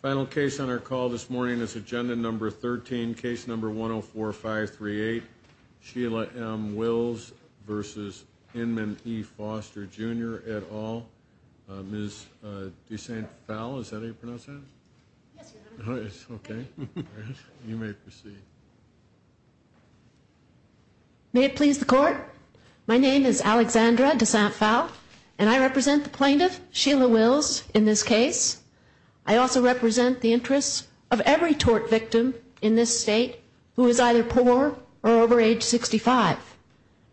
Final case on our call this morning is agenda number 13, case number 104-538, Sheila M. Wills v. Inman E. Foster Jr. et al. Ms. de Saint Phalle, is that how you pronounce that? Yes, Your Honor. Okay, you may proceed. May it please the Court, my name is Alexandra de Saint Phalle, and I represent the plaintiff, Sheila Wills, in this case. I also represent the interests of every tort victim in this state who is either poor or over age 65.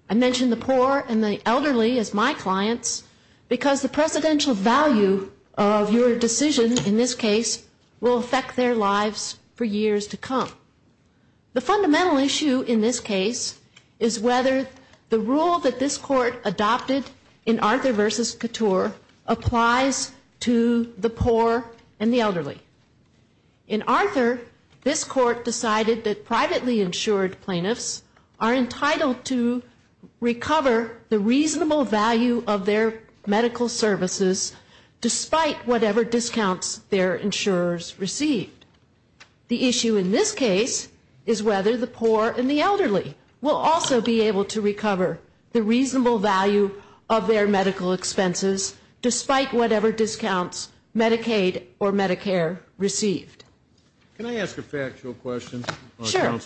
I mention the poor and the elderly as my clients because the precedential value of your decision in this case will affect their lives for years to come. The fundamental issue in this case is whether the rule that this Court adopted in Arthur v. Couture applies to the poor and the elderly. In Arthur, this Court decided that privately insured plaintiffs are entitled to recover the reasonable value of their medical services despite whatever discounts their insurers received. The issue in this case is whether the poor and the elderly will also be able to recover the reasonable value of their medical expenses despite whatever discounts Medicaid or Medicare received. Can I ask a factual question? Sure.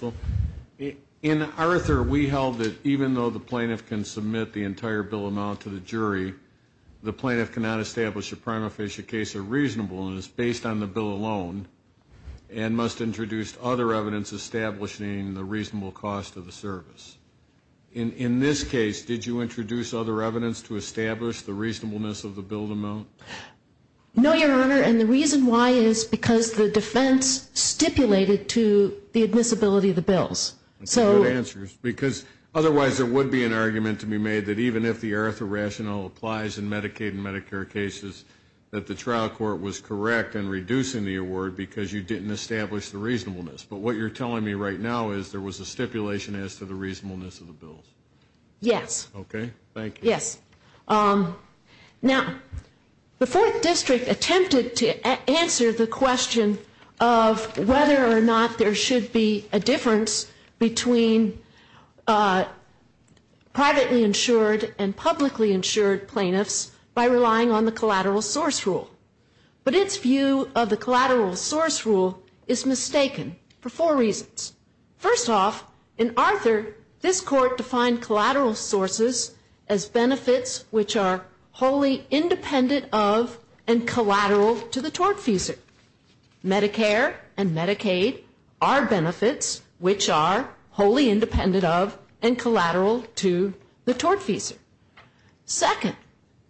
In Arthur, we held that even though the plaintiff can submit the entire bill amount to the jury, the plaintiff cannot establish a prima facie case of reasonableness based on the bill alone and must introduce other evidence establishing the reasonable cost of the service. In this case, did you introduce other evidence to establish the reasonableness of the bill amount? No, Your Honor, and the reason why is because the defense stipulated to the admissibility of the bills. That's a good answer because otherwise there would be an argument to be made that even if the Arthur rationale applies in Medicaid and Medicare cases, that the trial court was correct in reducing the award because you didn't establish the reasonableness. But what you're telling me right now is there was a stipulation as to the reasonableness of the bills. Yes. Okay, thank you. Yes. Now, the Fourth District attempted to answer the question of whether or not there should be a difference between privately insured and publicly insured plaintiffs by relying on the collateral source rule. But its view of the collateral source rule is mistaken for four reasons. First off, in Arthur, this court defined collateral sources as benefits which are wholly independent of and collateral to the tortfeasor. Medicare and Medicaid are benefits which are wholly independent of and collateral to the tortfeasor. Second,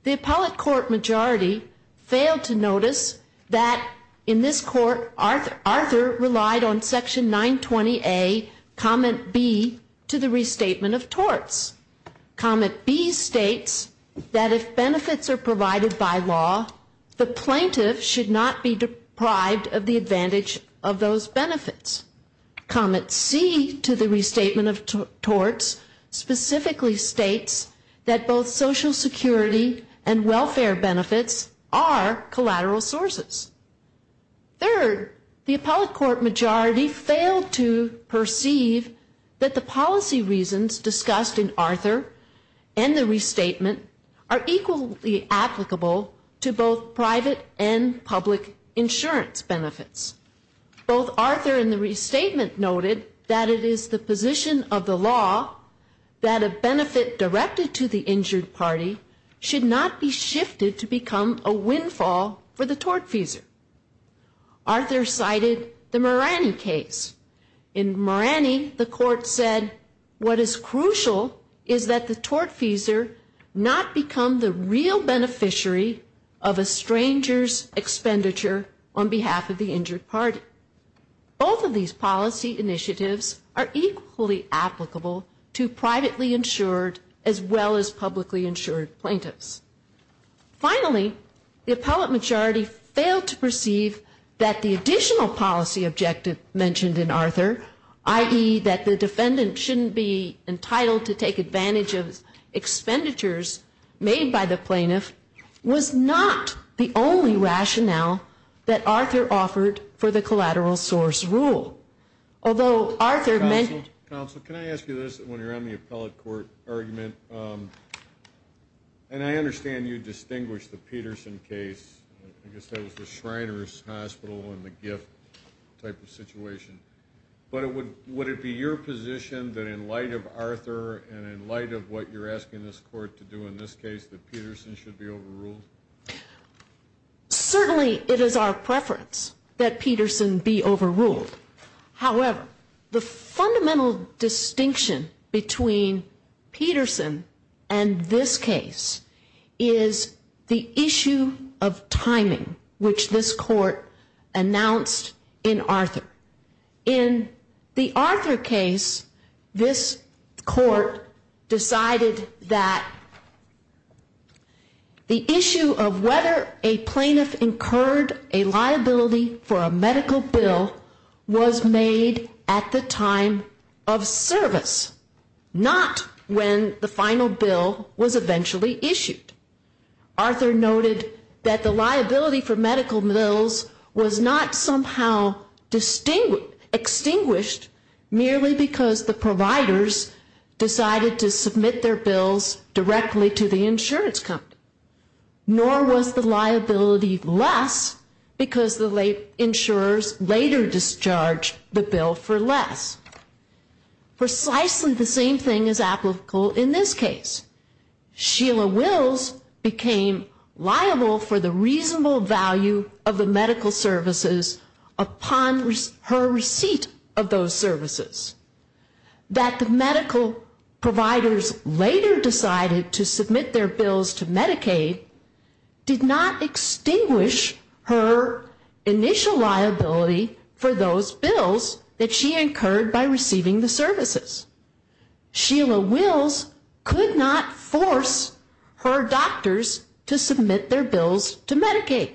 the appellate court majority failed to notice that in this court, Arthur relied on Section 920A, Comment B, to the restatement of torts. Comment B states that if benefits are provided by law, the plaintiff should not be deprived of the advantage of those benefits. Comment C to the restatement of torts specifically states that both Social Security and welfare benefits are collateral sources. Third, the appellate court majority failed to perceive that the policy reasons discussed in Arthur and the restatement are equally applicable to both private and public insurance benefits. Both Arthur and the restatement noted that it is the position of the law that a benefit directed to the injured party should not be shifted to become a windfall for the tortfeasor. Arthur cited the Marani case. In Marani, the court said what is crucial is that the tortfeasor not become the real beneficiary of a stranger's Both of these policy initiatives are equally applicable to privately insured as well as publicly insured plaintiffs. Finally, the appellate majority failed to perceive that the additional policy objective mentioned in Arthur, i.e. that the defendant shouldn't be entitled to take advantage of expenditures made by the plaintiff, was not the only rationale that Arthur offered for the collateral source rule. Although Arthur mentioned... Counsel, can I ask you this when you're on the appellate court argument? And I understand you distinguished the Peterson case. I guess that was the Shriners Hospital and the gift type of situation. But would it be your position that in light of Arthur and in light of what you're asking this court to do in this case, that Peterson should be overruled? Certainly it is our preference that Peterson be overruled. However, the fundamental distinction between Peterson and this case is the issue of timing, which this court announced in Arthur. In the Arthur case, this court decided that the issue of whether a plaintiff incurred a liability for a medical bill was made at the time of service, not when the final bill was eventually issued. Arthur noted that the liability for medical bills was not somehow extinguished merely because the providers decided to submit their bills directly to the insurance company. Nor was the liability less because the insurers later discharged the bill for less. Precisely the same thing is applicable in this case. Sheila Wills became liable for the reasonable value of the medical services upon her receipt of those services. That the medical providers later decided to submit their bills to Medicaid did not extinguish her initial liability for those bills that she incurred by receiving the services. Sheila Wills could not force her doctors to submit their bills to Medicaid.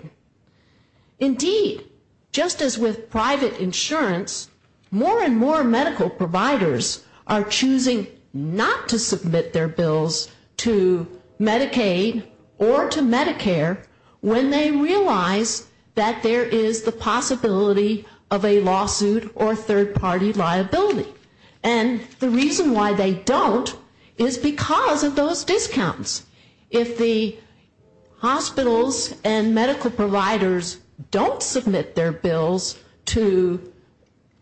Indeed, just as with private insurance, more and more medical providers are choosing not to submit their bills to Medicaid or to Medicare when they realize that there is the possibility of a lawsuit or third-party liability. And the reason why they don't is because of those discounts. If the hospitals and medical providers don't submit their bills to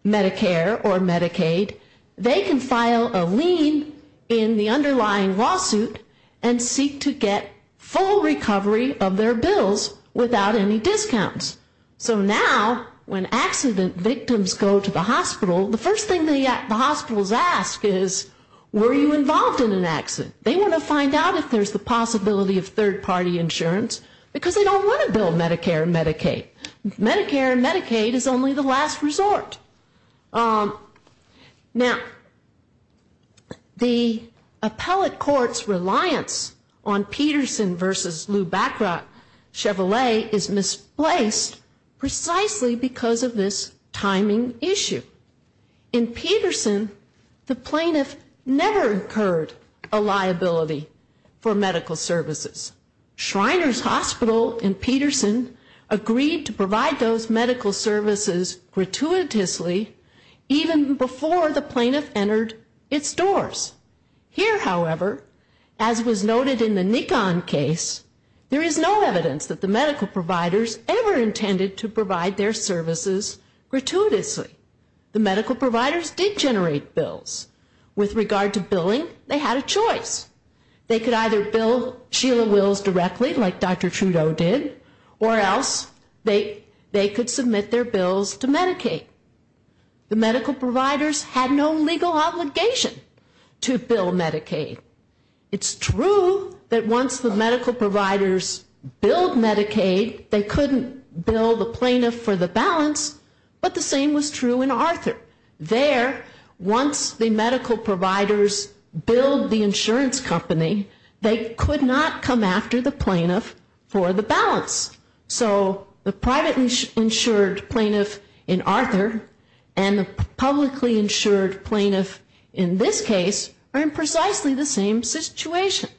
Medicare or Medicaid, they can file a lien in the underlying lawsuit and seek to get full recovery of their bills without any discounts. So now, when accident victims go to the hospital, the first thing the hospitals ask is, were you involved in an accident? They want to find out if there's the possibility of third-party insurance because they don't want to bill Medicare and Medicaid. Medicare and Medicaid is only the last resort. Now, the appellate court's reliance on Peterson v. Lubachra Chevrolet is misplaced precisely because of this timing issue. In Peterson, the plaintiff never incurred a liability for medical services. Shriners Hospital in Peterson agreed to provide those medical services gratuitously even before the plaintiff entered its doors. Here, however, as was noted in the Nikon case, there is no evidence that the medical providers ever intended to provide their services gratuitously. The medical providers did generate bills. With regard to billing, they had a choice. They could either bill Sheila Wills directly, like Dr. Trudeau did, or else they could submit their bills to Medicaid. The medical providers had no legal obligation to bill Medicaid. It's true that once the medical providers billed Medicaid, they couldn't bill the plaintiff for the balance, but the same was true in Arthur. There, once the medical providers billed the insurance company, they could not come after the plaintiff for the balance. So the privately insured plaintiff in Arthur and the publicly insured plaintiff in this case are in precisely the same situation.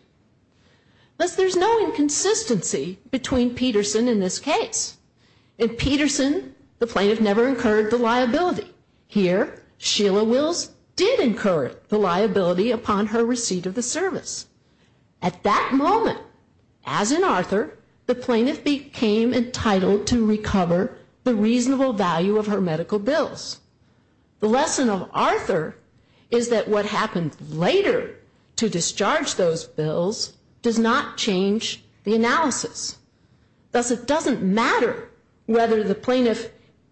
Thus, there's no inconsistency between Peterson and this case. In Peterson, the plaintiff never incurred the liability. Here, Sheila Wills did incur the liability upon her receipt of the service. At that moment, as in Arthur, the plaintiff became entitled to recover the reasonable value of her medical bills. The lesson of Arthur is that what happened later to discharge those bills does not change the analysis. Thus, it doesn't matter whether the plaintiff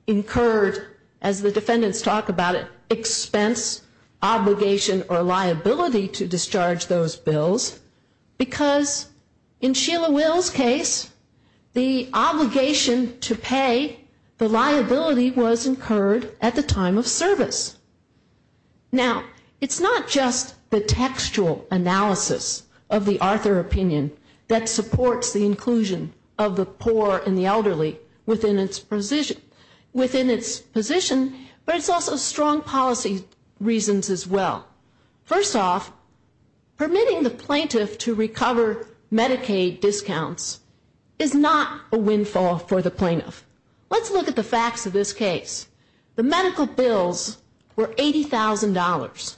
incurred, as the defendants talk about it, expense, obligation, or liability to discharge those bills, because in Sheila Wills' case, the obligation to pay the liability was incurred at the time of service. Now, it's not just the textual analysis of the Arthur opinion that supports the inclusion of the poor and the elderly within its position, but it's also strong policy reasons as well. First off, permitting the plaintiff to recover Medicaid discounts is not a windfall for the plaintiff. Let's look at the facts of this case. The medical bills were $80,000.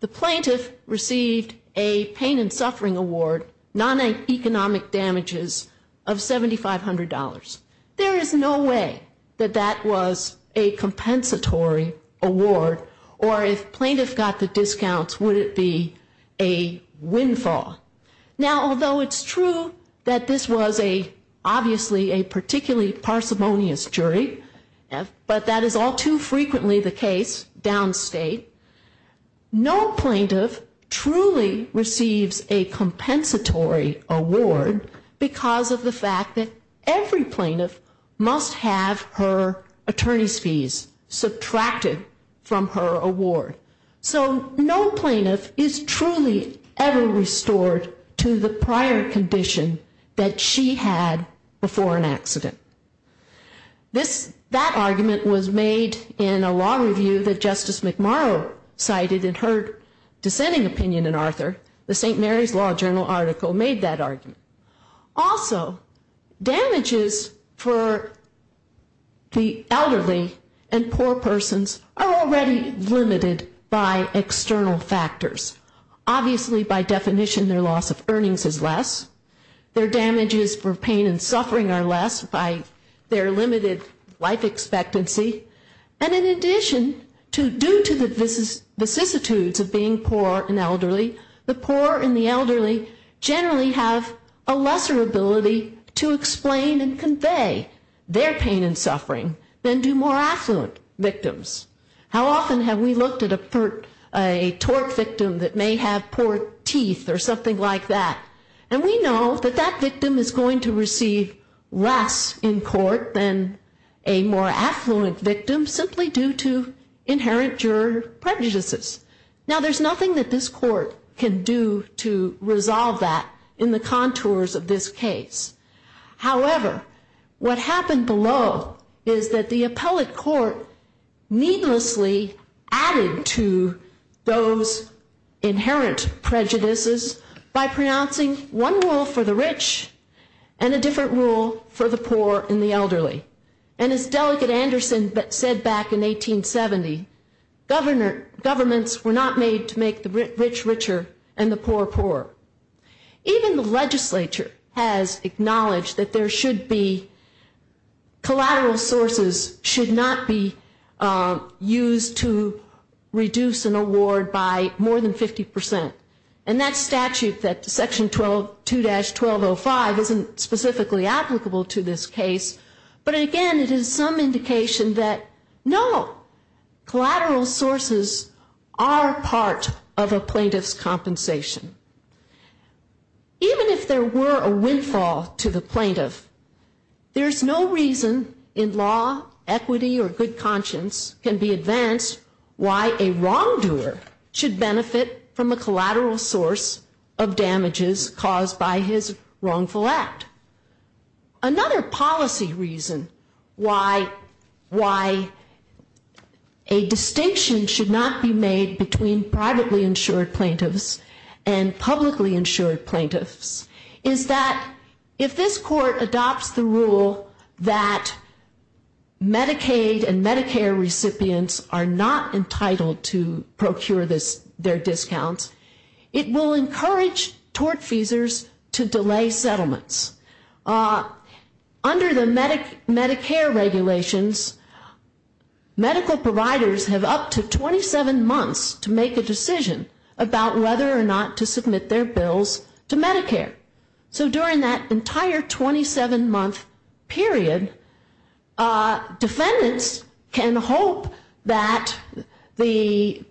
The plaintiff received a pain and suffering award, non-economic damages of $7,500. There is no way that that was a compensatory award, or if plaintiff got the discounts, would it be a windfall. Now, although it's true that this was obviously a particularly parsimonious jury, but that is all too frequently the case downstate, no plaintiff truly receives a compensatory award because of the fact that every plaintiff must have her attorney's fees subtracted from her award. So no plaintiff is truly ever restored to the prior condition that she had before an accident. That argument was made in a law review that Justice McMurrow cited in her dissenting opinion in Arthur. The St. Mary's Law Journal article made that argument. Also, damages for the elderly and poor persons are already limited by external factors. Obviously, by definition, their loss of earnings is less. Their damages for pain and suffering are less by their limited life expectancy. And in addition, due to the vicissitudes of being poor and elderly, the poor and the elderly generally have a lesser ability to explain and convey their pain and suffering than do more affluent victims. How often have we looked at a tort victim that may have poor teeth or something like that? And we know that that victim is going to receive less in court than a more affluent victim simply due to inherent juror prejudices. Now, there's nothing that this court can do to resolve that in the contours of this case. However, what happened below is that the appellate court needlessly added to those inherent prejudices by pronouncing one rule for the rich and a different rule for the poor and the elderly. And as Delegate Anderson said back in 1870, governments were not made to make the rich richer and the poor poorer. Even the legislature has acknowledged that collateral sources should not be used to reduce an award by more than 50%. And that statute, that section 2-1205, isn't specifically applicable to this case. But again, it is some indication that no, collateral sources are part of a plaintiff's compensation. Even if there were a windfall to the plaintiff, there's no reason in law, equity, or good conscience can be advanced why a wrongdoer should benefit from a collateral source of damages caused by his wrongful act. Another policy reason why a distinction should not be made between privately insured plaintiffs and publicly insured plaintiffs is that if this court adopts the rule that Medicaid and Medicare recipients are not entitled to procure their discounts, it will encourage tortfeasors to delay settlements. Under the Medicare regulations, medical providers have up to 27 months to make a decision about whether or not to submit their bills to Medicare. So during that entire 27 month period, defendants can hope that the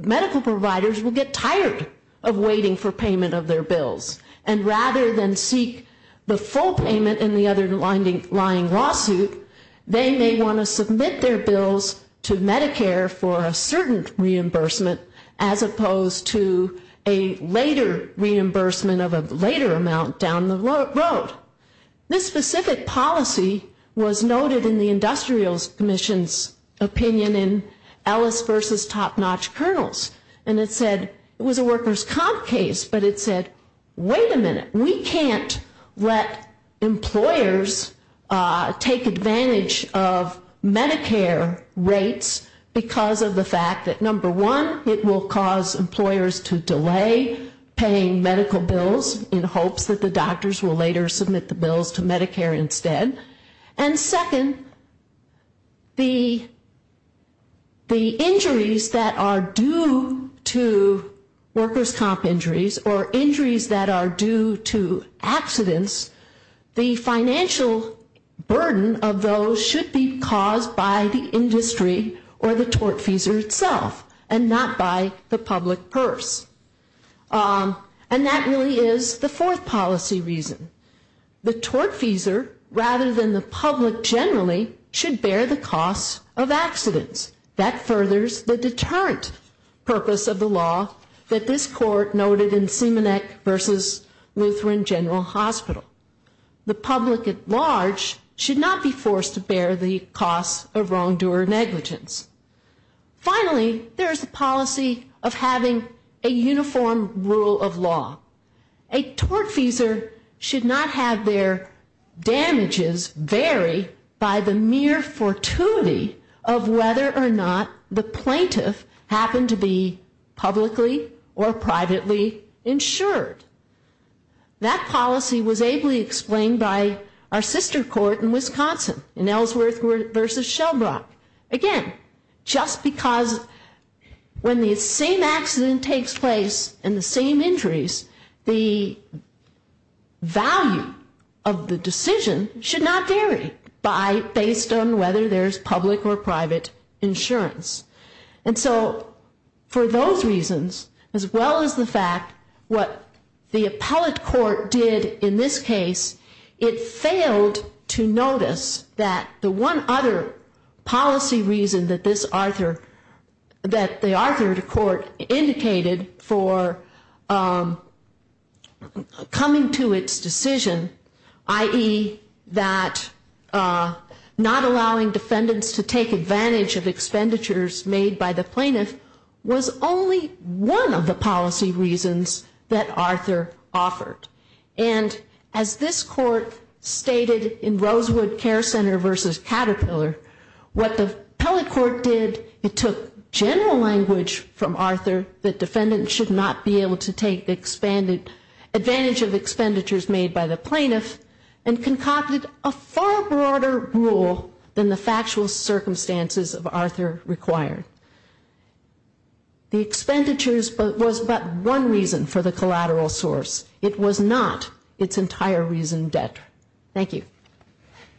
medical providers will get tired of waiting for payment of their bills. And rather than seek the full payment in the underlying lawsuit, they may want to submit their bills to Medicare for a certain reimbursement as opposed to a later reimbursement of a later amount down the road. This specific policy was noted in the Industrial Commission's opinion in Ellis v. Top Notch Colonels, and it said, it was a workers' comp case, but it said, wait a minute, we can't let employers take advantage of Medicare rates because of the fact that number one, it will cause employers to delay paying medical bills in hopes that the doctors will later submit their bills. And second, the injuries that are due to workers' comp injuries or injuries that are due to accidents, the financial burden of those should be caused by the industry or the tortfeasor itself and not by the public purse. And that really is the fourth policy reason. The tortfeasor, rather than the public generally, should bear the costs of accidents. That furthers the deterrent purpose of the law that this court noted in Simonek v. Lutheran General Hospital. The public at large should not be forced to bear the costs of wrongdoer negligence. Finally, there is the policy of having a uniform rule of law. A tortfeasor should not have their damages vary by the mere fortuity of whether or not the plaintiff happened to be publicly or privately insured. That policy was ably explained by our sister court in Wisconsin in Ellsworth v. Shelbrock. Again, just because when the same accident takes place and the same injuries, the value of the decision should not vary based on whether there is public or private insurance. For those reasons, as well as the fact what the appellate court did in this case, it failed to notice that the one other policy reason that the Arthur Court indicated for coming to its decision, i.e. that not allowing defendants to take advantage of expenditures made by the plaintiff, was only one of the policy reasons that Arthur offered. And as this court stated in Rosewood Care Center v. Caterpillar, what the appellate court did, it took general language from Arthur that defendants should not be able to take advantage of expenditures made by the plaintiff and concocted a far broader rule than the factual circumstances of Arthur required. The expenditures was but one reason for the collateral source. It was not its entire reason debtor. Thank you.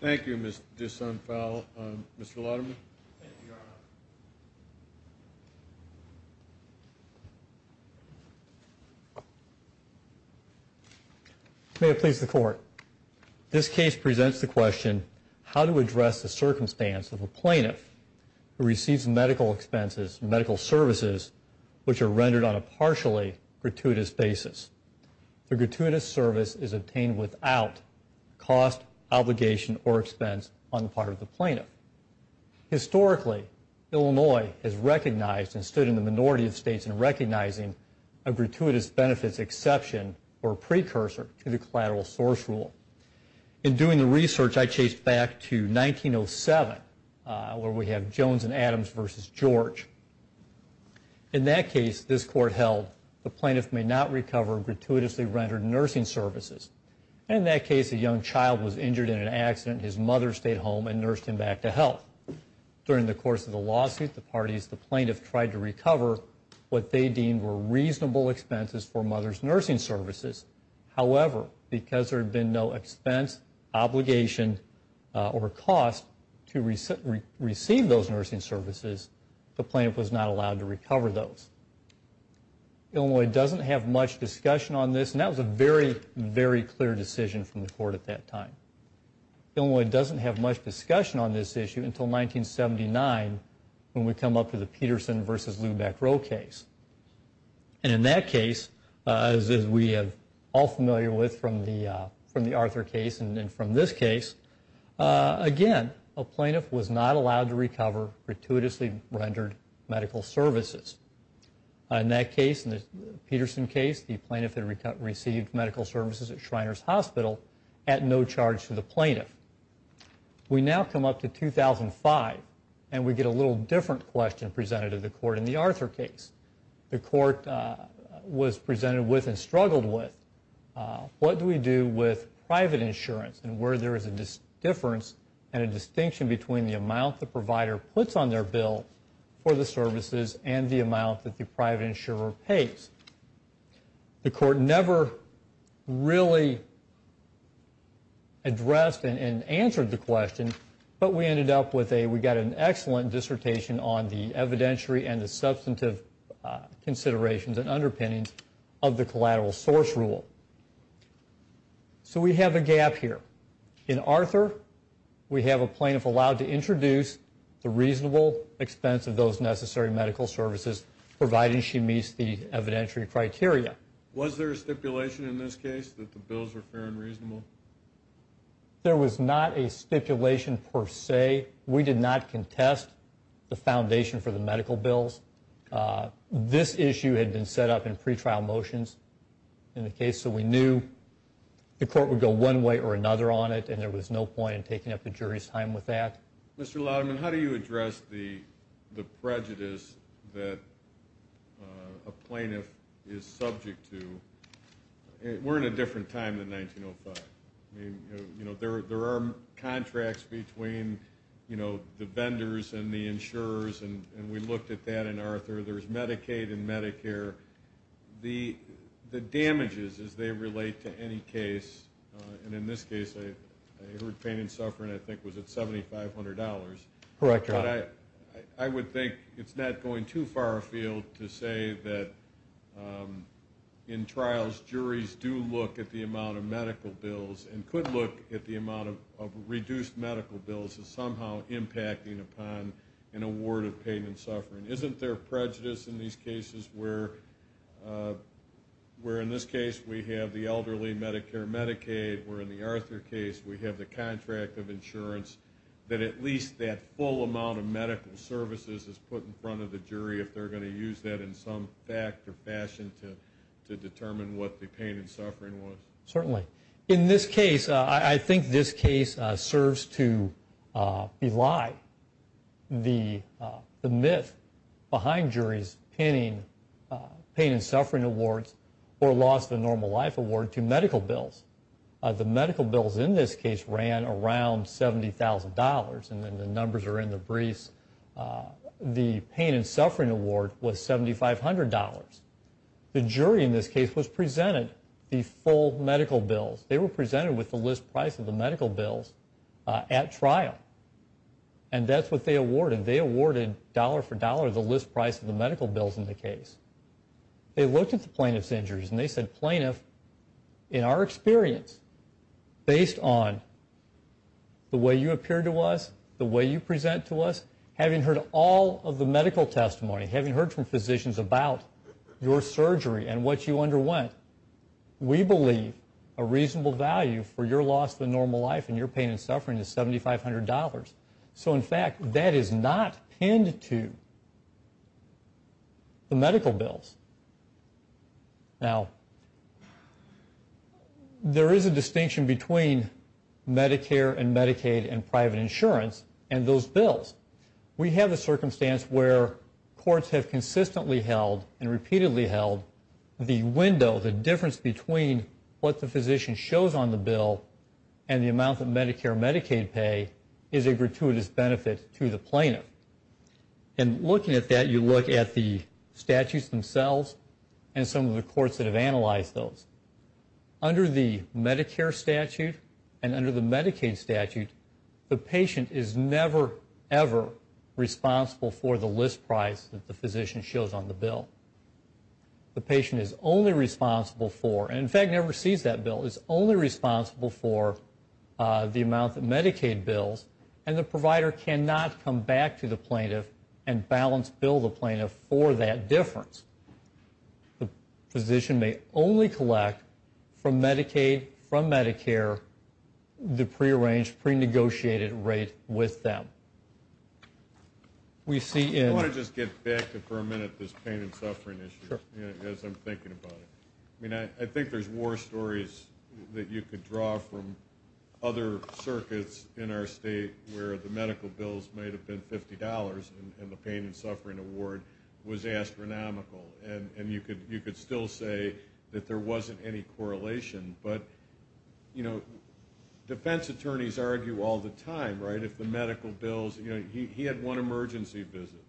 Thank you, Ms. Dyson-Fowl. Mr. Latterman? Thank you, Your Honor. May it please the Court. This case presents the question how to address the circumstance of a plaintiff who receives medical expenses, medical services, which are rendered on a partially gratuitous basis. The gratuitous service is obtained without cost, obligation, or expense on the part of the plaintiff. Historically, Illinois has recognized and stood in the minority of states in recognizing a gratuitous benefits exception or precursor to the collateral source rule. In doing the research, I chased back to 1907 where we have Jones and Adams v. George. In that case, this Court held the plaintiff may not recover gratuitously rendered nursing services. In that case, a young child was injured in an accident. His mother stayed home and nursed him back to health. During the course of the lawsuit, the parties, the plaintiff tried to recover what they deemed were reasonable expenses for mother's nursing services. However, because there had been no expense, obligation, or cost to receive those nursing services, the plaintiff was not allowed to recover those. Illinois doesn't have much discussion on this, and that was a very, very clear decision from the Court at that time. Illinois doesn't have much discussion on this issue until 1979 when we come up to the Peterson v. Lubeck-Roe case. And in that case, as we are all familiar with from the Arthur case and from this case, again, a plaintiff was not allowed to recover gratuitously rendered medical services. In that case, the Peterson case, the plaintiff had received medical services at Shriners Hospital at no charge to the plaintiff. We now come up to 2005, and we get a little different question presented to the Court in the Arthur case. The Court was presented with and struggled with what do we do with private insurance and where there is a difference and a distinction between the amount the provider puts on their bill for the services and the amount that the private insurer pays. The Court never really addressed and answered the question, but we got an excellent dissertation on the evidentiary and the substantive considerations and underpinnings of the collateral source rule. So we have a gap here. In Arthur, we have a plaintiff allowed to introduce the reasonable expense of those necessary medical services providing she meets the evidentiary criteria. Was there a stipulation in this case that the bills were fair and reasonable? There was not a stipulation per se. We did not contest the foundation for the medical bills. This issue had been set up in pretrial motions in the case, so we knew the Court would go one way or another on it, and there was no point in taking up the jury's time with that. Mr. Lauderman, how do you address the prejudice that a plaintiff is subject to? We're in a different time than 1905. There are contracts between the vendors and the insurers, and we looked at that in Arthur. There's Medicaid and Medicare. The damages as they relate to any case, and in this case I heard pain and suffering I think was at $7,500. Correct, Your Honor. I would think it's not going too far afield to say that in trials, juries do look at the amount of medical bills and could look at the amount of reduced medical bills as somehow impacting upon an award of pain and suffering. Isn't there prejudice in these cases where in this case we have the elderly Medicare Medicaid, where in the Arthur case we have the contract of insurance, that at least that full amount of medical services is put in front of the jury if they're going to use that in some fact or fashion to determine what the pain and suffering was? Certainly. In this case, I think this case serves to belie the myth behind juries pinning pain and suffering awards or loss of a normal life award to medical bills. The medical bills in this case ran around $70,000, and the numbers are in the briefs. The pain and suffering award was $7,500. The jury in this case was presented the full medical bills. They were presented with the list price of the medical bills at trial, and that's what they awarded. They awarded dollar for dollar the list price of the medical bills in the case. They looked at the plaintiff's injuries, and they said, plaintiff, in our experience, based on the way you appear to us, the way you present to us, having heard all of the medical testimony, having heard from physicians about your surgery and what you underwent, we believe a reasonable value for your loss of a normal life and your pain and suffering is $7,500. So, in fact, that is not pinned to the medical bills. Now, there is a distinction between Medicare and Medicaid and private insurance and those bills. We have a circumstance where courts have consistently held and repeatedly held the window, the difference between what the physician shows on the bill and the amount that Medicare and Medicaid pay is a gratuitous benefit to the plaintiff. And looking at that, you look at the statutes themselves and some of the courts that have analyzed those. Under the Medicare statute and under the Medicaid statute, the patient is never, ever responsible for the list price that the physician shows on the bill. The patient is only responsible for, and in fact never sees that bill, is only responsible for the amount that Medicaid bills, and the provider cannot come back to the plaintiff and balance bill the plaintiff for that difference. The physician may only collect from Medicaid, from Medicare, the prearranged, prenegotiated rate with them. I want to just get back for a minute to this pain and suffering issue as I'm thinking about it. I mean, I think there's war stories that you could draw from other circuits in our state where the medical bills might have been $50 and the pain and suffering award was astronomical. And you could still say that there wasn't any correlation. But, you know, defense attorneys argue all the time, right, if the medical bills, you know, he had one emergency visit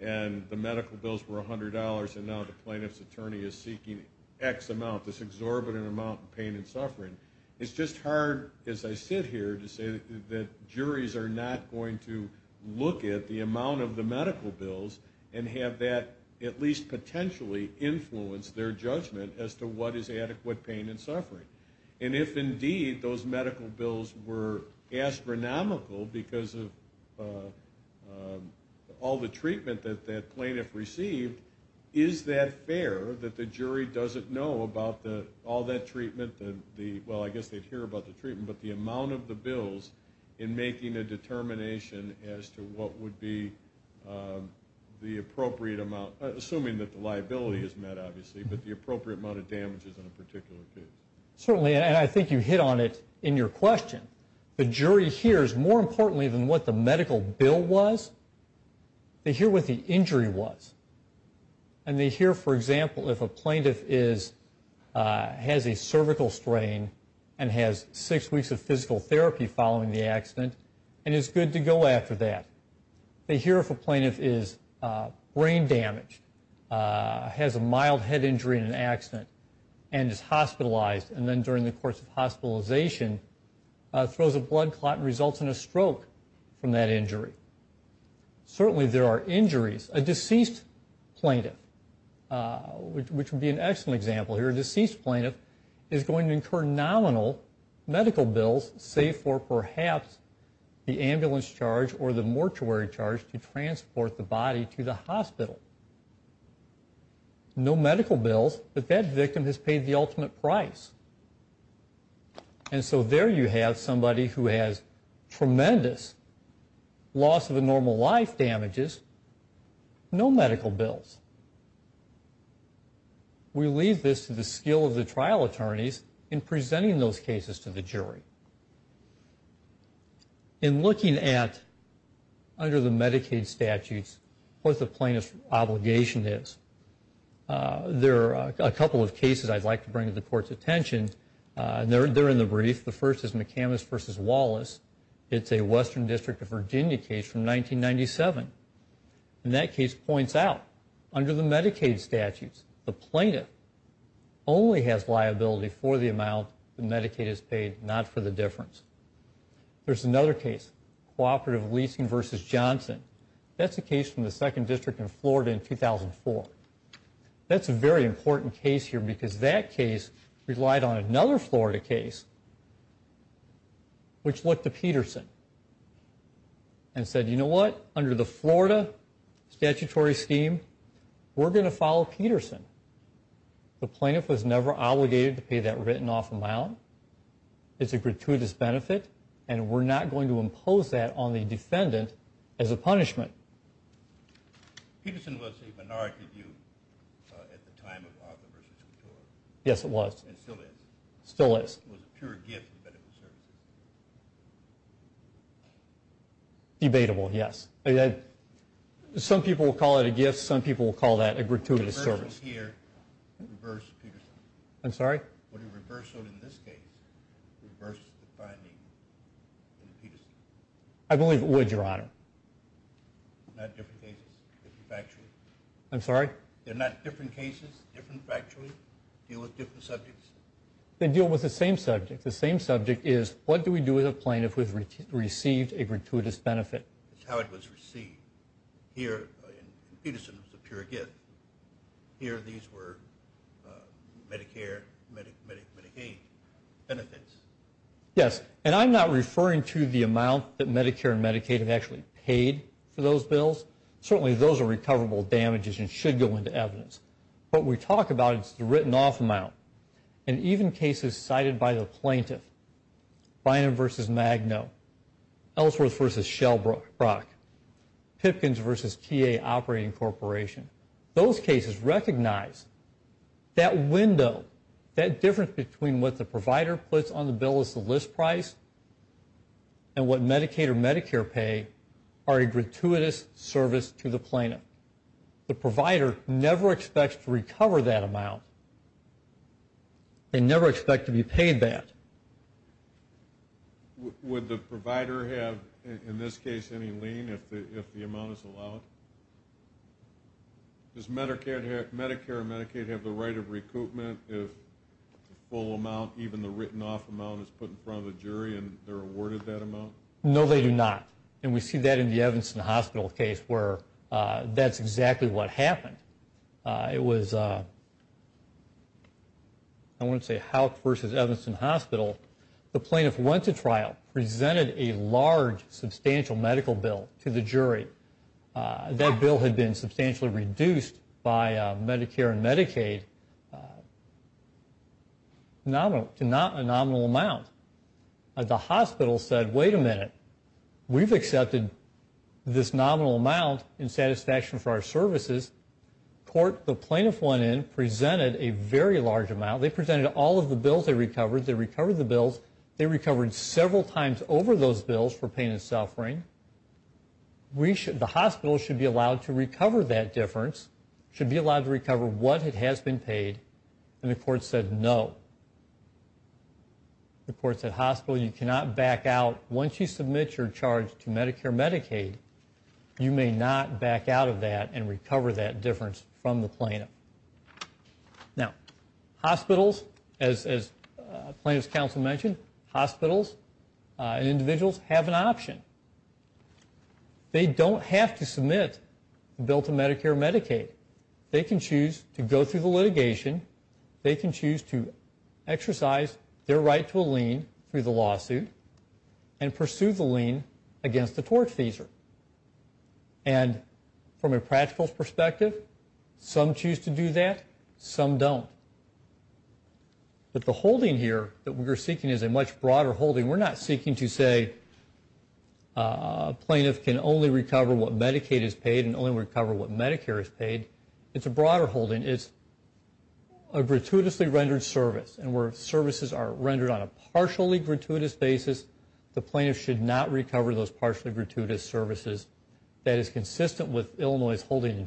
and the medical bills were $100 and now the plaintiff's attorney is seeking X amount, this exorbitant amount of pain and suffering, it's just hard as I sit here to say that juries are not going to look at the amount of the medical bills and have that at least potentially influence their judgment as to what is adequate pain and suffering. And if indeed those medical bills were astronomical because of all the treatment that that plaintiff received, is that fair that the jury doesn't know about all that treatment, well, I guess they'd hear about the treatment, but the amount of the bills in making a determination as to what would be the appropriate amount, assuming that the liability is met, obviously, but the appropriate amount of damages in a particular case. Certainly, and I think you hit on it in your question. The jury hears more importantly than what the medical bill was, they hear what the injury was. And they hear, for example, if a plaintiff has a cervical strain and has six weeks of physical therapy following the accident and is good to go after that. They hear if a plaintiff is brain damaged, has a mild head injury in an accident and is hospitalized and then during the course of hospitalization throws a blood clot and results in a stroke from that injury. Certainly there are injuries. A deceased plaintiff, which would be an excellent example here, a deceased plaintiff is going to incur nominal medical bills save for perhaps the ambulance charge or the mortuary charge to transport the body to the hospital. No medical bills, but that victim has paid the ultimate price. And so there you have somebody who has tremendous loss of a normal life damages, no medical bills. We leave this to the skill of the trial attorneys in presenting those cases to the jury. In looking at, under the Medicaid statutes, what the plaintiff's obligation is, there are a couple of cases I'd like to bring to the court's attention. They're in the brief. The first is McCamas v. Wallace. It's a Western District of Virginia case from 1997. And that case points out, under the Medicaid statutes, the plaintiff only has liability for the amount that Medicaid has paid, not for the difference. There's another case, Cooperative Leasing v. Johnson. That's a case from the 2nd District in Florida in 2004. That's a very important case here because that case relied on another Florida case, which looked to Peterson and said, you know what? Under the Florida statutory scheme, we're going to follow Peterson. The plaintiff was never obligated to pay that written-off amount. It's a gratuitous benefit, and we're not going to impose that on the defendant as a punishment. Peterson was a minority view at the time of Walker v. Couture. Yes, it was. And still is. Still is. It was a pure gift to the medical service. Debatable, yes. Some people will call it a gift. Some people will call that a gratuitous service. Would a reversal here reverse Peterson? I'm sorry? Would a reversal in this case reverse the finding in Peterson? I believe it would, Your Honor. Not different cases, different factually? I'm sorry? They're not different cases, different factually? Deal with different subjects? They deal with the same subject. The same subject is, what do we do with a plaintiff who has received a gratuitous benefit? It's how it was received. Here, in Peterson, it was a pure gift. Here, these were Medicare, Medicaid benefits. Yes, and I'm not referring to the amount that Medicare and Medicaid have actually paid for those bills. Certainly those are recoverable damages and should go into evidence. What we talk about is the written-off amount. And even cases cited by the plaintiff, Bynum v. Magno, Ellsworth v. Shellbrook, Pipkins v. TA Operating Corporation, those cases recognize that window, that difference between what the provider puts on the bill as the list price and what Medicaid or Medicare pay are a gratuitous service to the plaintiff. The provider never expects to recover that amount. They never expect to be paid that. Would the provider have, in this case, any lien if the amount is allowed? Does Medicare and Medicaid have the right of recoupment if the full amount, even the written-off amount, is put in front of the jury and they're awarded that amount? No, they do not. And we see that in the Evanston Hospital case where that's exactly what happened. It was, I want to say Houck v. Evanston Hospital. The plaintiff went to trial, presented a large, substantial medical bill to the jury. That bill had been substantially reduced by Medicare and Medicaid to not a nominal amount. The hospital said, wait a minute. We've accepted this nominal amount in satisfaction for our services. The court, the plaintiff went in, presented a very large amount. They presented all of the bills they recovered. They recovered the bills. They recovered several times over those bills for pain and suffering. The hospital should be allowed to recover that difference, should be allowed to recover what has been paid, and the court said no. The court said, hospital, you cannot back out. Once you submit your charge to Medicare and Medicaid, you may not back out of that and recover that difference from the plaintiff. Now, hospitals, as plaintiff's counsel mentioned, hospitals and individuals have an option. They don't have to submit a bill to Medicare and Medicaid. They can choose to go through the litigation. They can choose to exercise their right to a lien through the lawsuit and pursue the lien against the tortfeasor. And from a practical perspective, some choose to do that, some don't. But the holding here that we're seeking is a much broader holding. We're not seeking to say a plaintiff can only recover what Medicaid has paid and only recover what Medicare has paid. It's a broader holding. It's a gratuitously rendered service, and where services are rendered on a partially gratuitous basis, the plaintiff should not recover those partially gratuitous services. It is consistent with Illinois' holding in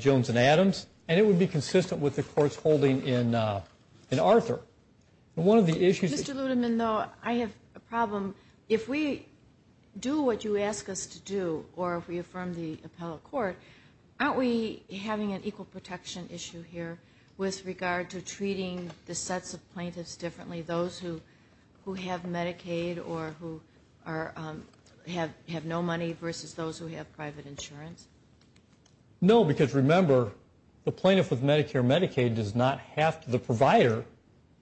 Jones and Adams, and it would be consistent with the court's holding in Arthur. And one of the issues that you see here... Mr. Ludeman, though, I have a problem. If we do what you ask us to do, or if we affirm the appellate court, aren't we having an equal protection issue here with regard to treating the sets of plaintiffs differently, those who have Medicaid or who have no money versus those who have private insurance? No, because remember, the plaintiff with Medicare and Medicaid does not have to, the provider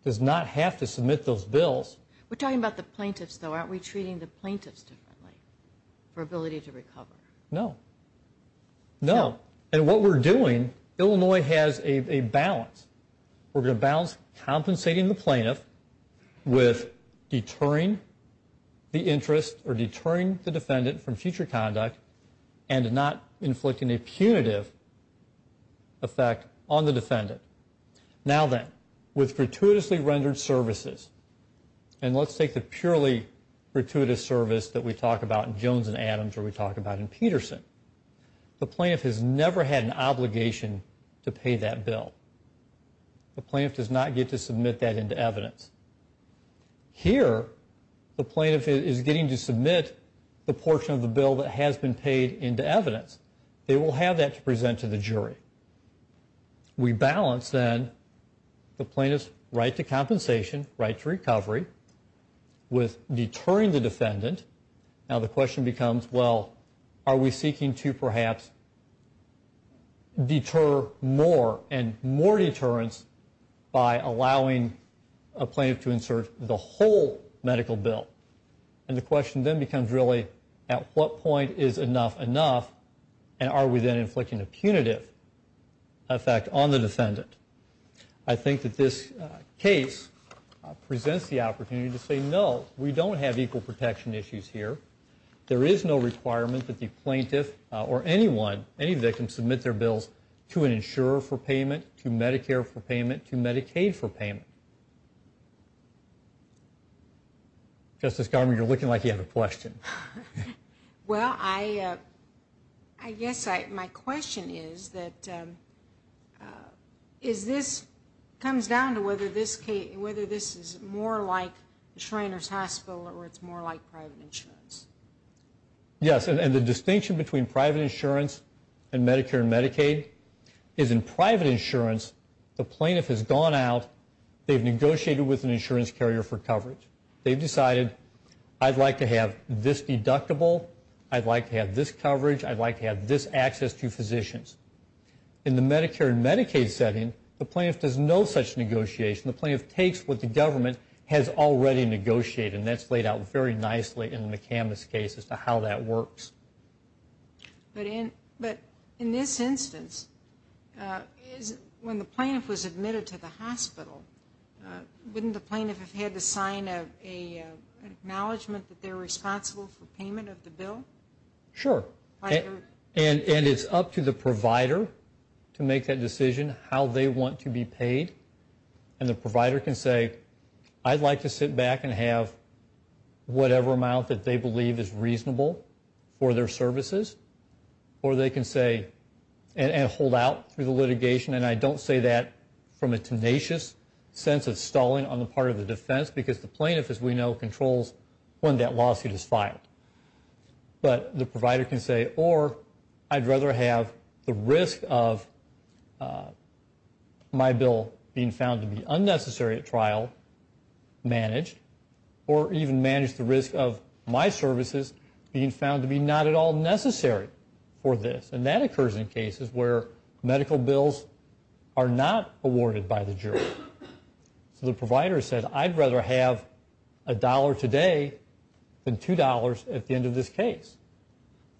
does not have to submit those bills. We're talking about the plaintiffs, though. Aren't we treating the plaintiffs differently for ability to recover? No. No. And what we're doing, Illinois has a balance. We're going to balance compensating the plaintiff with deterring the interest or deterring the defendant from future conduct and not inflicting a punitive effect on the defendant. Now then, with gratuitously rendered services, and let's take the purely gratuitous service that we talk about in Jones and Adams or we talk about in Peterson, the plaintiff has never had an obligation to pay that bill. The plaintiff does not get to submit that into evidence. Here, the plaintiff is getting to submit the portion of the bill that has been paid into evidence. They will have that to present to the jury. We balance, then, the plaintiff's right to compensation, right to recovery, with deterring the defendant. Now the question becomes, well, are we seeking to perhaps deter more and more deterrence by allowing a plaintiff to insert the whole medical bill? And the question then becomes really at what point is enough enough and are we then inflicting a punitive effect on the defendant? I think that this case presents the opportunity to say, no, we don't have equal protection issues here. There is no requirement that the plaintiff or anyone, any victim, submit their bills to an insurer for payment, to Medicare for payment, to Medicaid for payment. Justice Garment, you're looking like you have a question. Well, I guess my question is that, is this, comes down to whether this is more like Shriner's Hospital or it's more like private insurance. Yes, and the distinction between private insurance and Medicare and Medicaid is in private insurance, the plaintiff has gone out, they've negotiated with an insurance carrier for coverage. They've decided, I'd like to have this deductible, I'd like to have this coverage, I'd like to have this access to physicians. In the Medicare and Medicaid setting, the plaintiff does no such negotiation. The plaintiff takes what the government has already negotiated, and that's laid out very nicely in the McCambus case as to how that works. But in this instance, when the plaintiff was admitted to the hospital, wouldn't the plaintiff have had to sign an acknowledgement that they're responsible for payment of the bill? Sure, and it's up to the provider to make that decision, how they want to be paid. And the provider can say, I'd like to sit back and have whatever amount that they believe is reasonable for their services, or they can say, and hold out through the litigation. And I don't say that from a tenacious sense of stalling on the part of the defense because the plaintiff, as we know, controls when that lawsuit is filed. But the provider can say, or I'd rather have the risk of my bill being found to be unnecessary at trial managed, or even manage the risk of my services being found to be not at all necessary for this. And that occurs in cases where medical bills are not awarded by the jury. So the provider said, I'd rather have a dollar today than two dollars at the end of this case.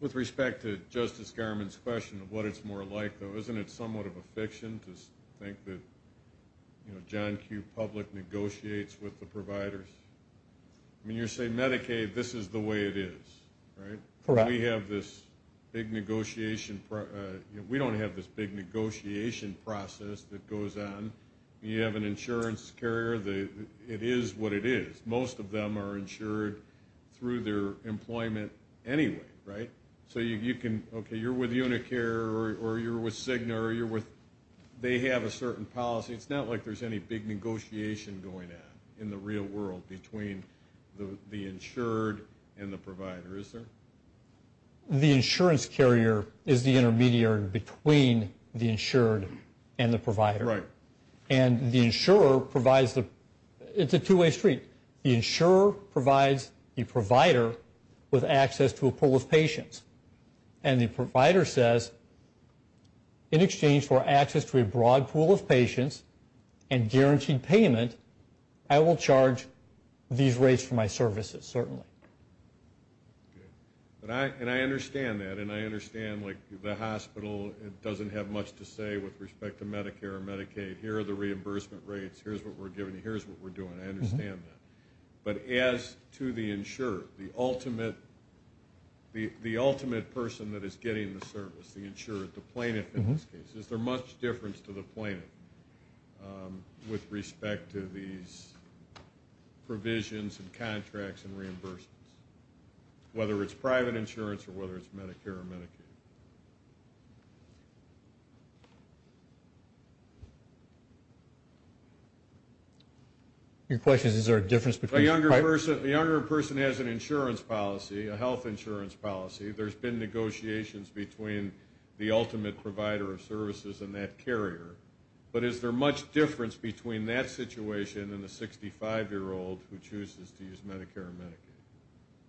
With respect to Justice Garmon's question of what it's more like, though, isn't it somewhat of a fiction to think that, you know, John Q. Public negotiates with the providers? I mean, you're saying Medicaid, this is the way it is, right? Correct. We have this big negotiation. We don't have this big negotiation process that goes on. You have an insurance carrier. It is what it is. Most of them are insured through their employment anyway, right? So you can – okay, you're with Unicare or you're with Cigna or you're with – they have a certain policy. It's not like there's any big negotiation going on in the real world between the insured and the provider, is there? The insurance carrier is the intermediary between the insured and the provider. Right. And the insurer provides the – it's a two-way street. The insurer provides the provider with access to a pool of patients. And the provider says, in exchange for access to a broad pool of patients and guaranteed payment, I will charge these rates for my services, certainly. Okay. And I understand that, and I understand, like, the hospital doesn't have much to say with respect to Medicare or Medicaid. Here are the reimbursement rates. Here's what we're giving you. Here's what we're doing. I understand that. But as to the insured, the ultimate person that is getting the service, the insured, the plaintiff in this case, is there much difference to the plaintiff with respect to these provisions and contracts and reimbursements, whether it's private insurance or whether it's Medicare or Medicaid? Your question is, is there a difference between private? The younger person has an insurance policy, a health insurance policy. There's been negotiations between the ultimate provider of services and that carrier. But is there much difference between that situation and the 65-year-old who chooses to use Medicare or Medicaid?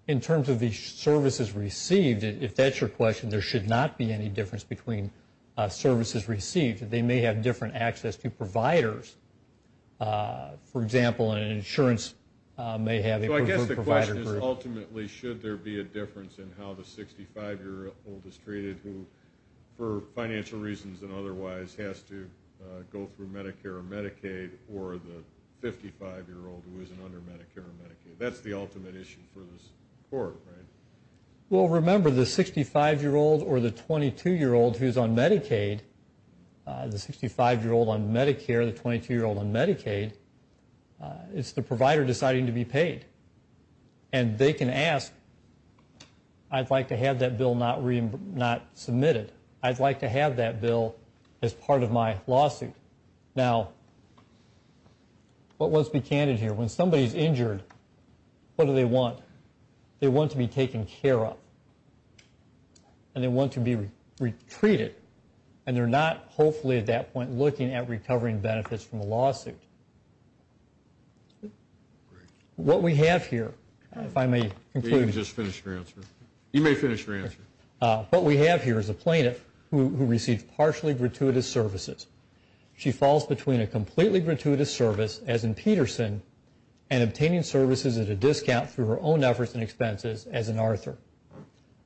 In terms of the services received, if that's your question, there should not be any difference between services received. They may have different access to providers. For example, an insurance may have a preferred provider group. Ultimately, should there be a difference in how the 65-year-old is treated who, for financial reasons and otherwise, has to go through Medicare or Medicaid or the 55-year-old who isn't under Medicare or Medicaid? That's the ultimate issue for this court, right? Well, remember, the 65-year-old or the 22-year-old who's on Medicaid, the 65-year-old on Medicare, the 22-year-old on Medicaid, it's the provider deciding to be paid. And they can ask, I'd like to have that bill not submitted. I'd like to have that bill as part of my lawsuit. Now, let's be candid here. When somebody's injured, what do they want? They want to be taken care of. And they want to be retreated. And they're not, hopefully at that point, looking at recovering benefits from a lawsuit. What we have here, if I may conclude. You may finish your answer. What we have here is a plaintiff who received partially gratuitous services. She falls between a completely gratuitous service, as in Peterson, and obtaining services at a discount through her own efforts and expenses, as in Arthur.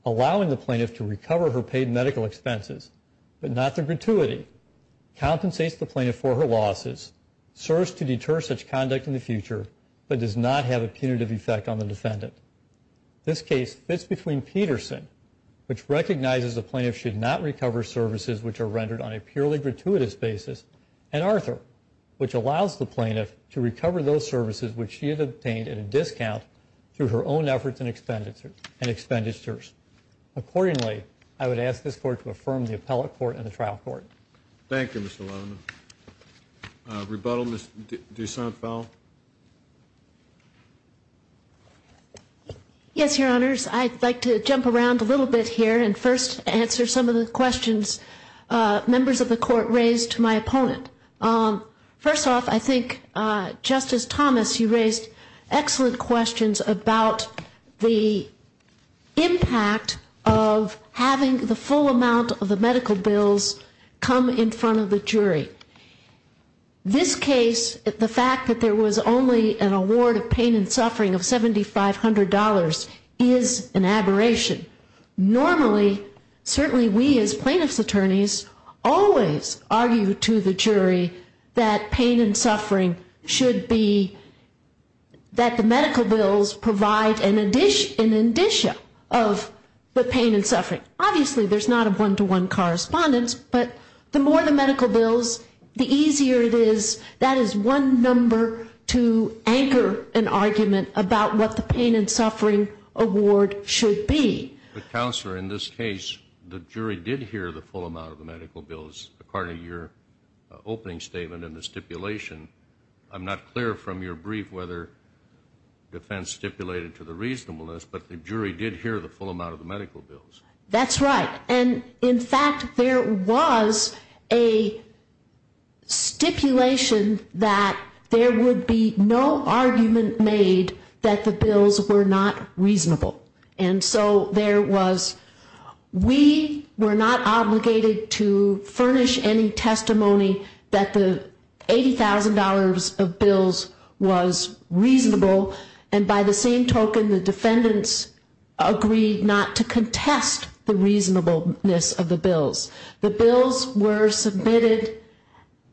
Allowing the plaintiff to recover her paid medical expenses, but not the gratuity, compensates the plaintiff for her losses, serves to deter such conduct in the future, but does not have a punitive effect on the defendant. This case fits between Peterson, which recognizes the plaintiff should not recover services which are rendered on a purely gratuitous basis, and Arthur, which allows the plaintiff to recover those services which she had obtained at a discount through her own efforts and expenditures. Accordingly, I would ask this Court to affirm the appellate court and the trial court. Thank you, Mr. Levin. Rebuttal, Ms. Dusant-Fowl? Yes, Your Honors. I'd like to jump around a little bit here and first answer some of the questions members of the Court raised to my opponent. First off, I think Justice Thomas, you raised excellent questions about the impact of having the full amount of the medical bills come in front of the jury. This case, the fact that there was only an award of pain and suffering of $7,500 is an aberration. Normally, certainly we as plaintiff's attorneys always argue to the jury that pain and suffering should be, that the medical bills provide an indicia of the pain and suffering. Obviously, there's not a one-to-one correspondence, but the more the medical bills, the easier it is. That is one number to anchor an argument about what the pain and suffering award should be. But, Counselor, in this case, the jury did hear the full amount of the medical bills, according to your opening statement and the stipulation. I'm not clear from your brief whether defense stipulated to the reasonableness, but the jury did hear the full amount of the medical bills. That's right. And, in fact, there was a stipulation that there would be no argument made that the bills were not reasonable. And so there was, we were not obligated to furnish any testimony that the $80,000 of bills was reasonable, and by the same token, the defendants agreed not to contest the reasonableness of the bills. The bills were submitted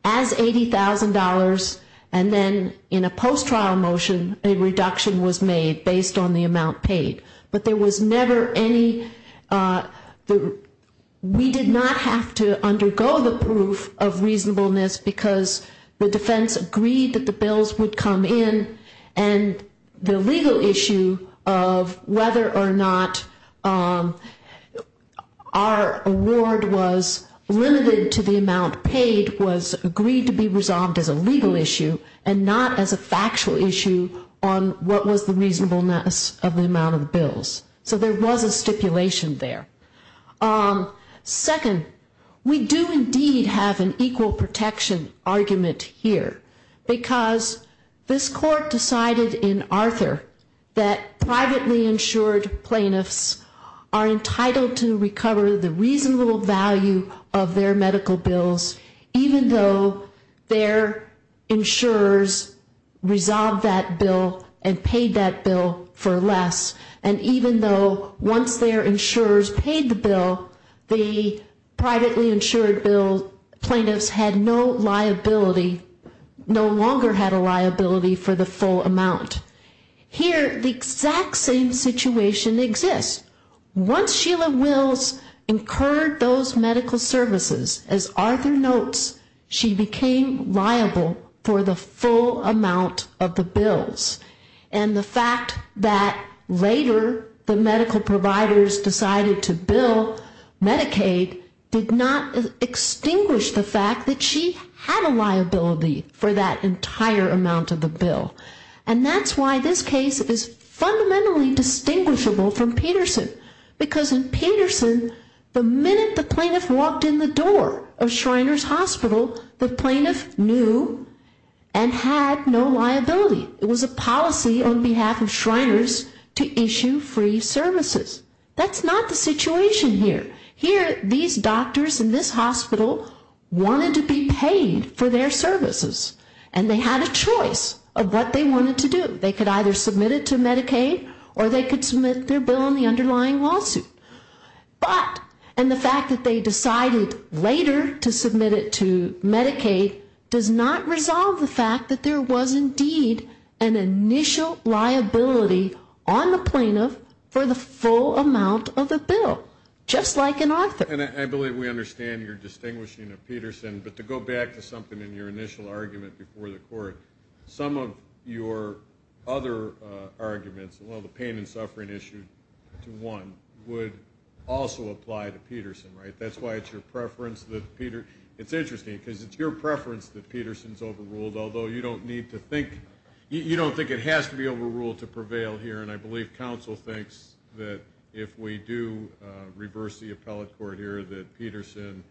as $80,000, and then in a post-trial motion, a reduction was made based on the amount paid. But there was never any, we did not have to undergo the proof of reasonableness, because the defense agreed that the bills would come in, and the legal issue of whether or not our award was limited to the amount paid was agreed to be resolved as a legal issue, and not as a factual issue on what was the reasonableness of the amount of the bills. So there was a stipulation there. Second, we do indeed have an equal protection argument here, because this Court decided in Arthur that privately insured plaintiffs are entitled to recover the reasonable value of their medical bills, even though their insurers resolved that bill and paid that bill for less, and even though once their insurers paid the bill, the privately insured plaintiffs had no liability, no longer had a liability for the full amount. Here, the exact same situation exists. Once Sheila Wills incurred those medical services, as Arthur notes, she became liable for the full amount of the bills, and the fact that later the medical providers decided to bill Medicaid did not extinguish the fact that she had a liability for that entire amount of the bill. And that's why this case is fundamentally distinguishable from Peterson, because in Peterson, the minute the plaintiff walked in the door of Shriners Hospital, the plaintiff knew and had no liability. It was a policy on behalf of Shriners to issue free services. That's not the situation here. Here, these doctors in this hospital wanted to be paid for their services, and they had a choice of what they wanted to do. They could either submit it to Medicaid or they could submit their bill in the underlying lawsuit. But, and the fact that they decided later to submit it to Medicaid does not resolve the fact that there was indeed an initial liability on the plaintiff for the full amount of the bill, just like in Arthur. And I believe we understand your distinguishing of Peterson, but to go back to something in your initial argument before the court, some of your other arguments, well, the pain and suffering issue to one, would also apply to Peterson, right? That's why it's your preference that Peter, it's interesting, because it's your preference that Peterson's overruled, although you don't need to think, you don't think it has to be overruled to prevail here, and I believe counsel thinks that if we do reverse the appellate court here, that Peterson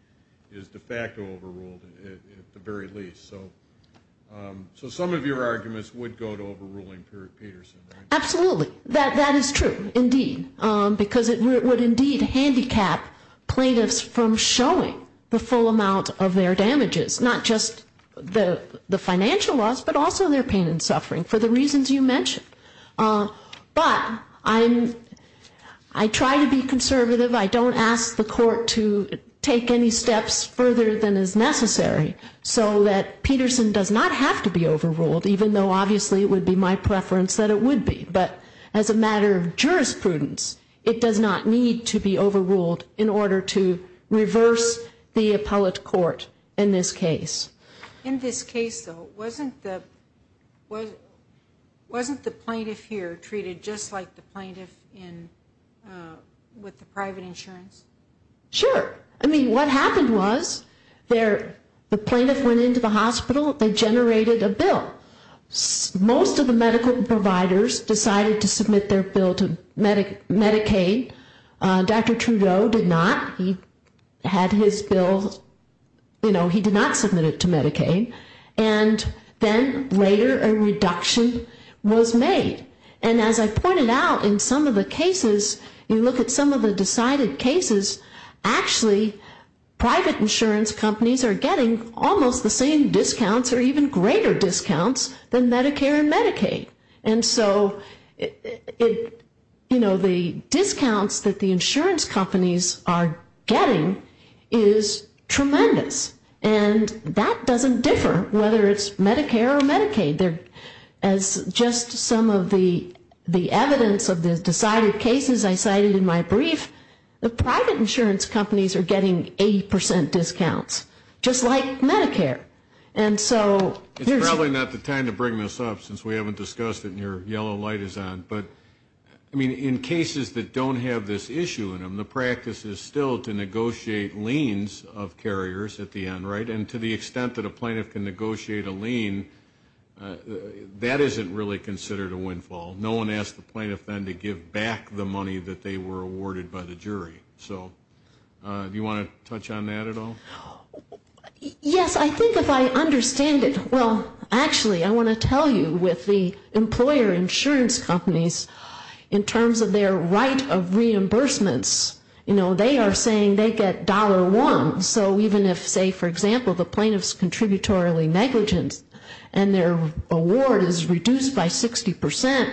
is de facto overruled at the very least. So some of your arguments would go to overruling Peterson, right? Absolutely. That is true, indeed, because it would indeed handicap plaintiffs from showing the full amount of their damages, not just the financial loss, but also their pain and suffering, for the reasons you mentioned. But I try to be conservative. I don't ask the court to take any steps further than is necessary, so that Peterson does not have to be overruled, even though obviously it would be my preference that it would be. But as a matter of jurisprudence, it does not need to be overruled in order to reverse the appellate court in this case. In this case, though, wasn't the plaintiff here treated just like the plaintiff with the private insurance? Sure. I mean, what happened was the plaintiff went into the hospital, they generated a bill. Most of the medical providers decided to submit their bill to Medicaid. Dr. Trudeau did not. He had his bill, you know, he did not submit it to Medicaid. And then later a reduction was made. And as I pointed out, in some of the cases, you look at some of the decided cases, actually private insurance companies are getting almost the same discounts or even greater discounts than Medicare and Medicaid. And so, you know, the discounts that the insurance companies are getting is tremendous. And that doesn't differ whether it's Medicare or Medicaid. As just some of the evidence of the decided cases I cited in my brief, the private insurance companies are getting 80 percent discounts, just like Medicare. It's probably not the time to bring this up since we haven't discussed it and your yellow light is on. But, I mean, in cases that don't have this issue in them, the practice is still to negotiate liens of carriers at the end, right? And to the extent that a plaintiff can negotiate a lien, that isn't really considered a windfall. No one asked the plaintiff then to give back the money that they were awarded by the jury. So, do you want to touch on that at all? Yes, I think if I understand it, well, actually I want to tell you with the employer insurance companies, in terms of their right of reimbursements, you know, they are saying they get dollar one. So even if, say, for example, the plaintiff's contributory negligence and their award is reduced by 60 percent,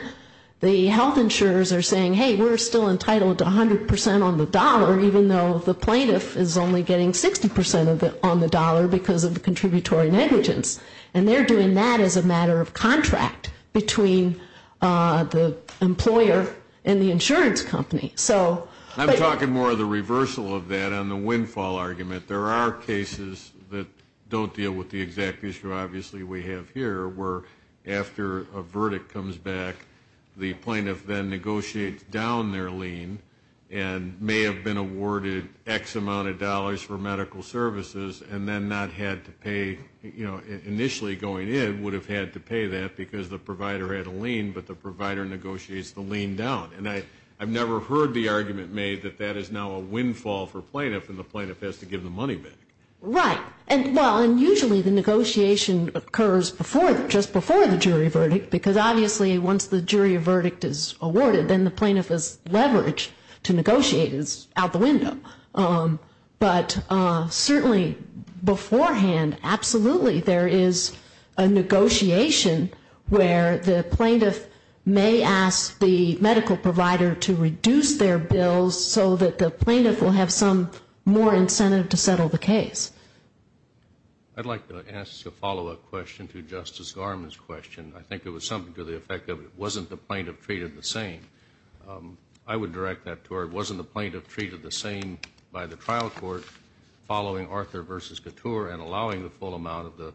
the health insurers are saying, hey, we're still entitled to 100 percent on the dollar, even though the plaintiff is only getting 60 percent on the dollar because of the contributory negligence. And they're doing that as a matter of contract between the employer and the insurance company. I'm talking more of the reversal of that on the windfall argument. There are cases that don't deal with the exact issue, obviously, we have here, where after a verdict comes back, the plaintiff then negotiates down their lien and may have been awarded X amount of dollars for medical services and then not had to pay, you know, initially going in would have had to pay that because the provider had a lien, but the provider negotiates the lien down. And I've never heard the argument made that that is now a windfall for plaintiff and the plaintiff has to give the money back. Right. Well, and usually the negotiation occurs before, just before the jury verdict, because obviously once the jury verdict is awarded, then the plaintiff's leverage to negotiate is out the window. But certainly beforehand, absolutely, there is a negotiation where the plaintiff may ask the medical provider to reduce their bills, so that the plaintiff will have some more incentive to settle the case. I'd like to ask a follow-up question to Justice Garmon's question. I think it was something to the effect of it wasn't the plaintiff treated the same. I would direct that to her. It wasn't the plaintiff treated the same by the trial court following Arthur v. Couture and allowing the full amount of the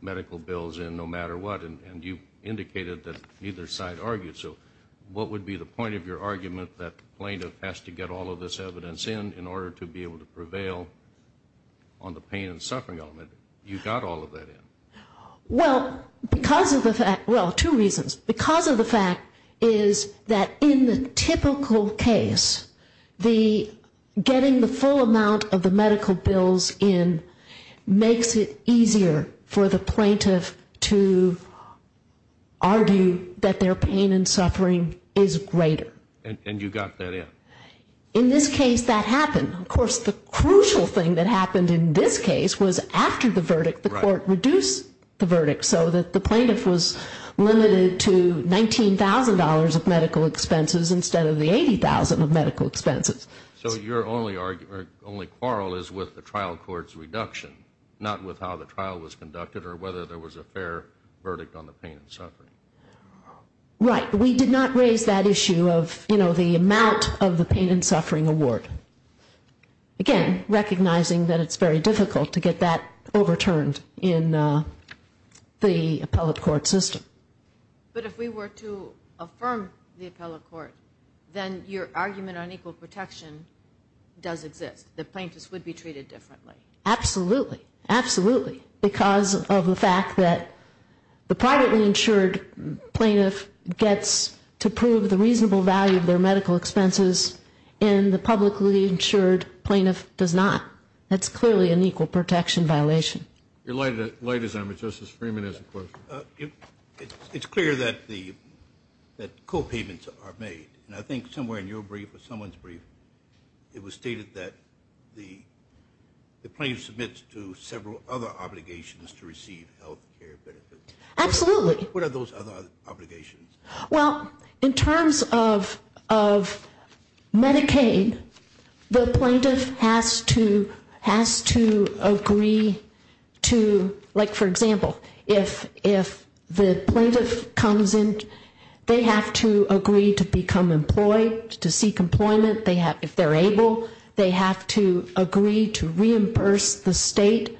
medical bills in no matter what, and you indicated that neither side argued. So what would be the point of your argument that the plaintiff has to get all of this evidence in in order to be able to prevail on the pain and suffering element? You got all of that in. Well, because of the fact, well, two reasons. Because of the fact is that in the typical case, the getting the full amount of the medical bills in makes it easier for the plaintiff to argue that their pain and suffering is greater. And you got that in. In this case, that happened. Of course, the crucial thing that happened in this case was after the verdict, the court reduced the verdict so that the plaintiff was limited to $19,000 of medical expenses instead of the $80,000 of medical expenses. So your only quarrel is with the trial court's reduction, not with how the trial was conducted or whether there was a fair verdict on the pain and suffering. Right. We did not raise that issue of, you know, the amount of the pain and suffering award. Again, recognizing that it's very difficult to get that overturned in the appellate court system. But if we were to affirm the appellate court, then your argument on equal protection does exist. The plaintiffs would be treated differently. Absolutely. Absolutely. Because of the fact that the privately insured plaintiff gets to prove the reasonable value of their medical expenses and the publicly insured plaintiff does not. That's clearly an equal protection violation. Your light is on, but Justice Freeman has a question. It's clear that co-payments are made. And I think somewhere in your brief or someone's brief, it was stated that the plaintiff submits to several other obligations to receive health care benefits. Absolutely. What are those other obligations? Well, in terms of Medicaid, the plaintiff has to agree to, like for example, if the plaintiff comes in, they have to agree to become employed, to seek employment. If they're able, they have to agree to reimburse the state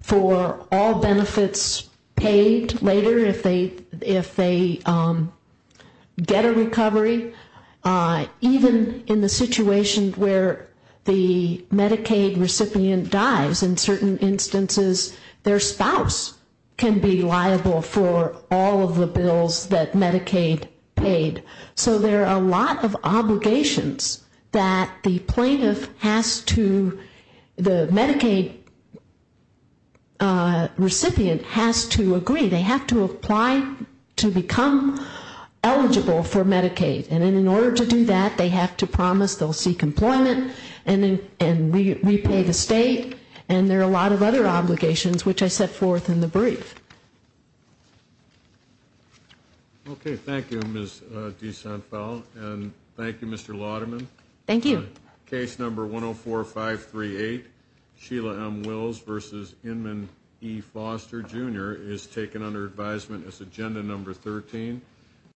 for all benefits paid later if they get a recovery. Even in the situation where the Medicaid recipient dies, in certain instances, their spouse can be liable for all of the bills that Medicaid paid. So there are a lot of obligations that the plaintiff has to, the Medicaid recipient has to agree. They have to apply to become eligible for Medicaid. And in order to do that, they have to promise they'll seek employment and repay the state. And there are a lot of other obligations, which I set forth in the brief. Okay. Thank you, Ms. DeSantel. And thank you, Mr. Lauderman. Thank you. Case number 104538, Sheila M. Wills v. Inman E. Foster, Jr. is taken under advisement as agenda number 13.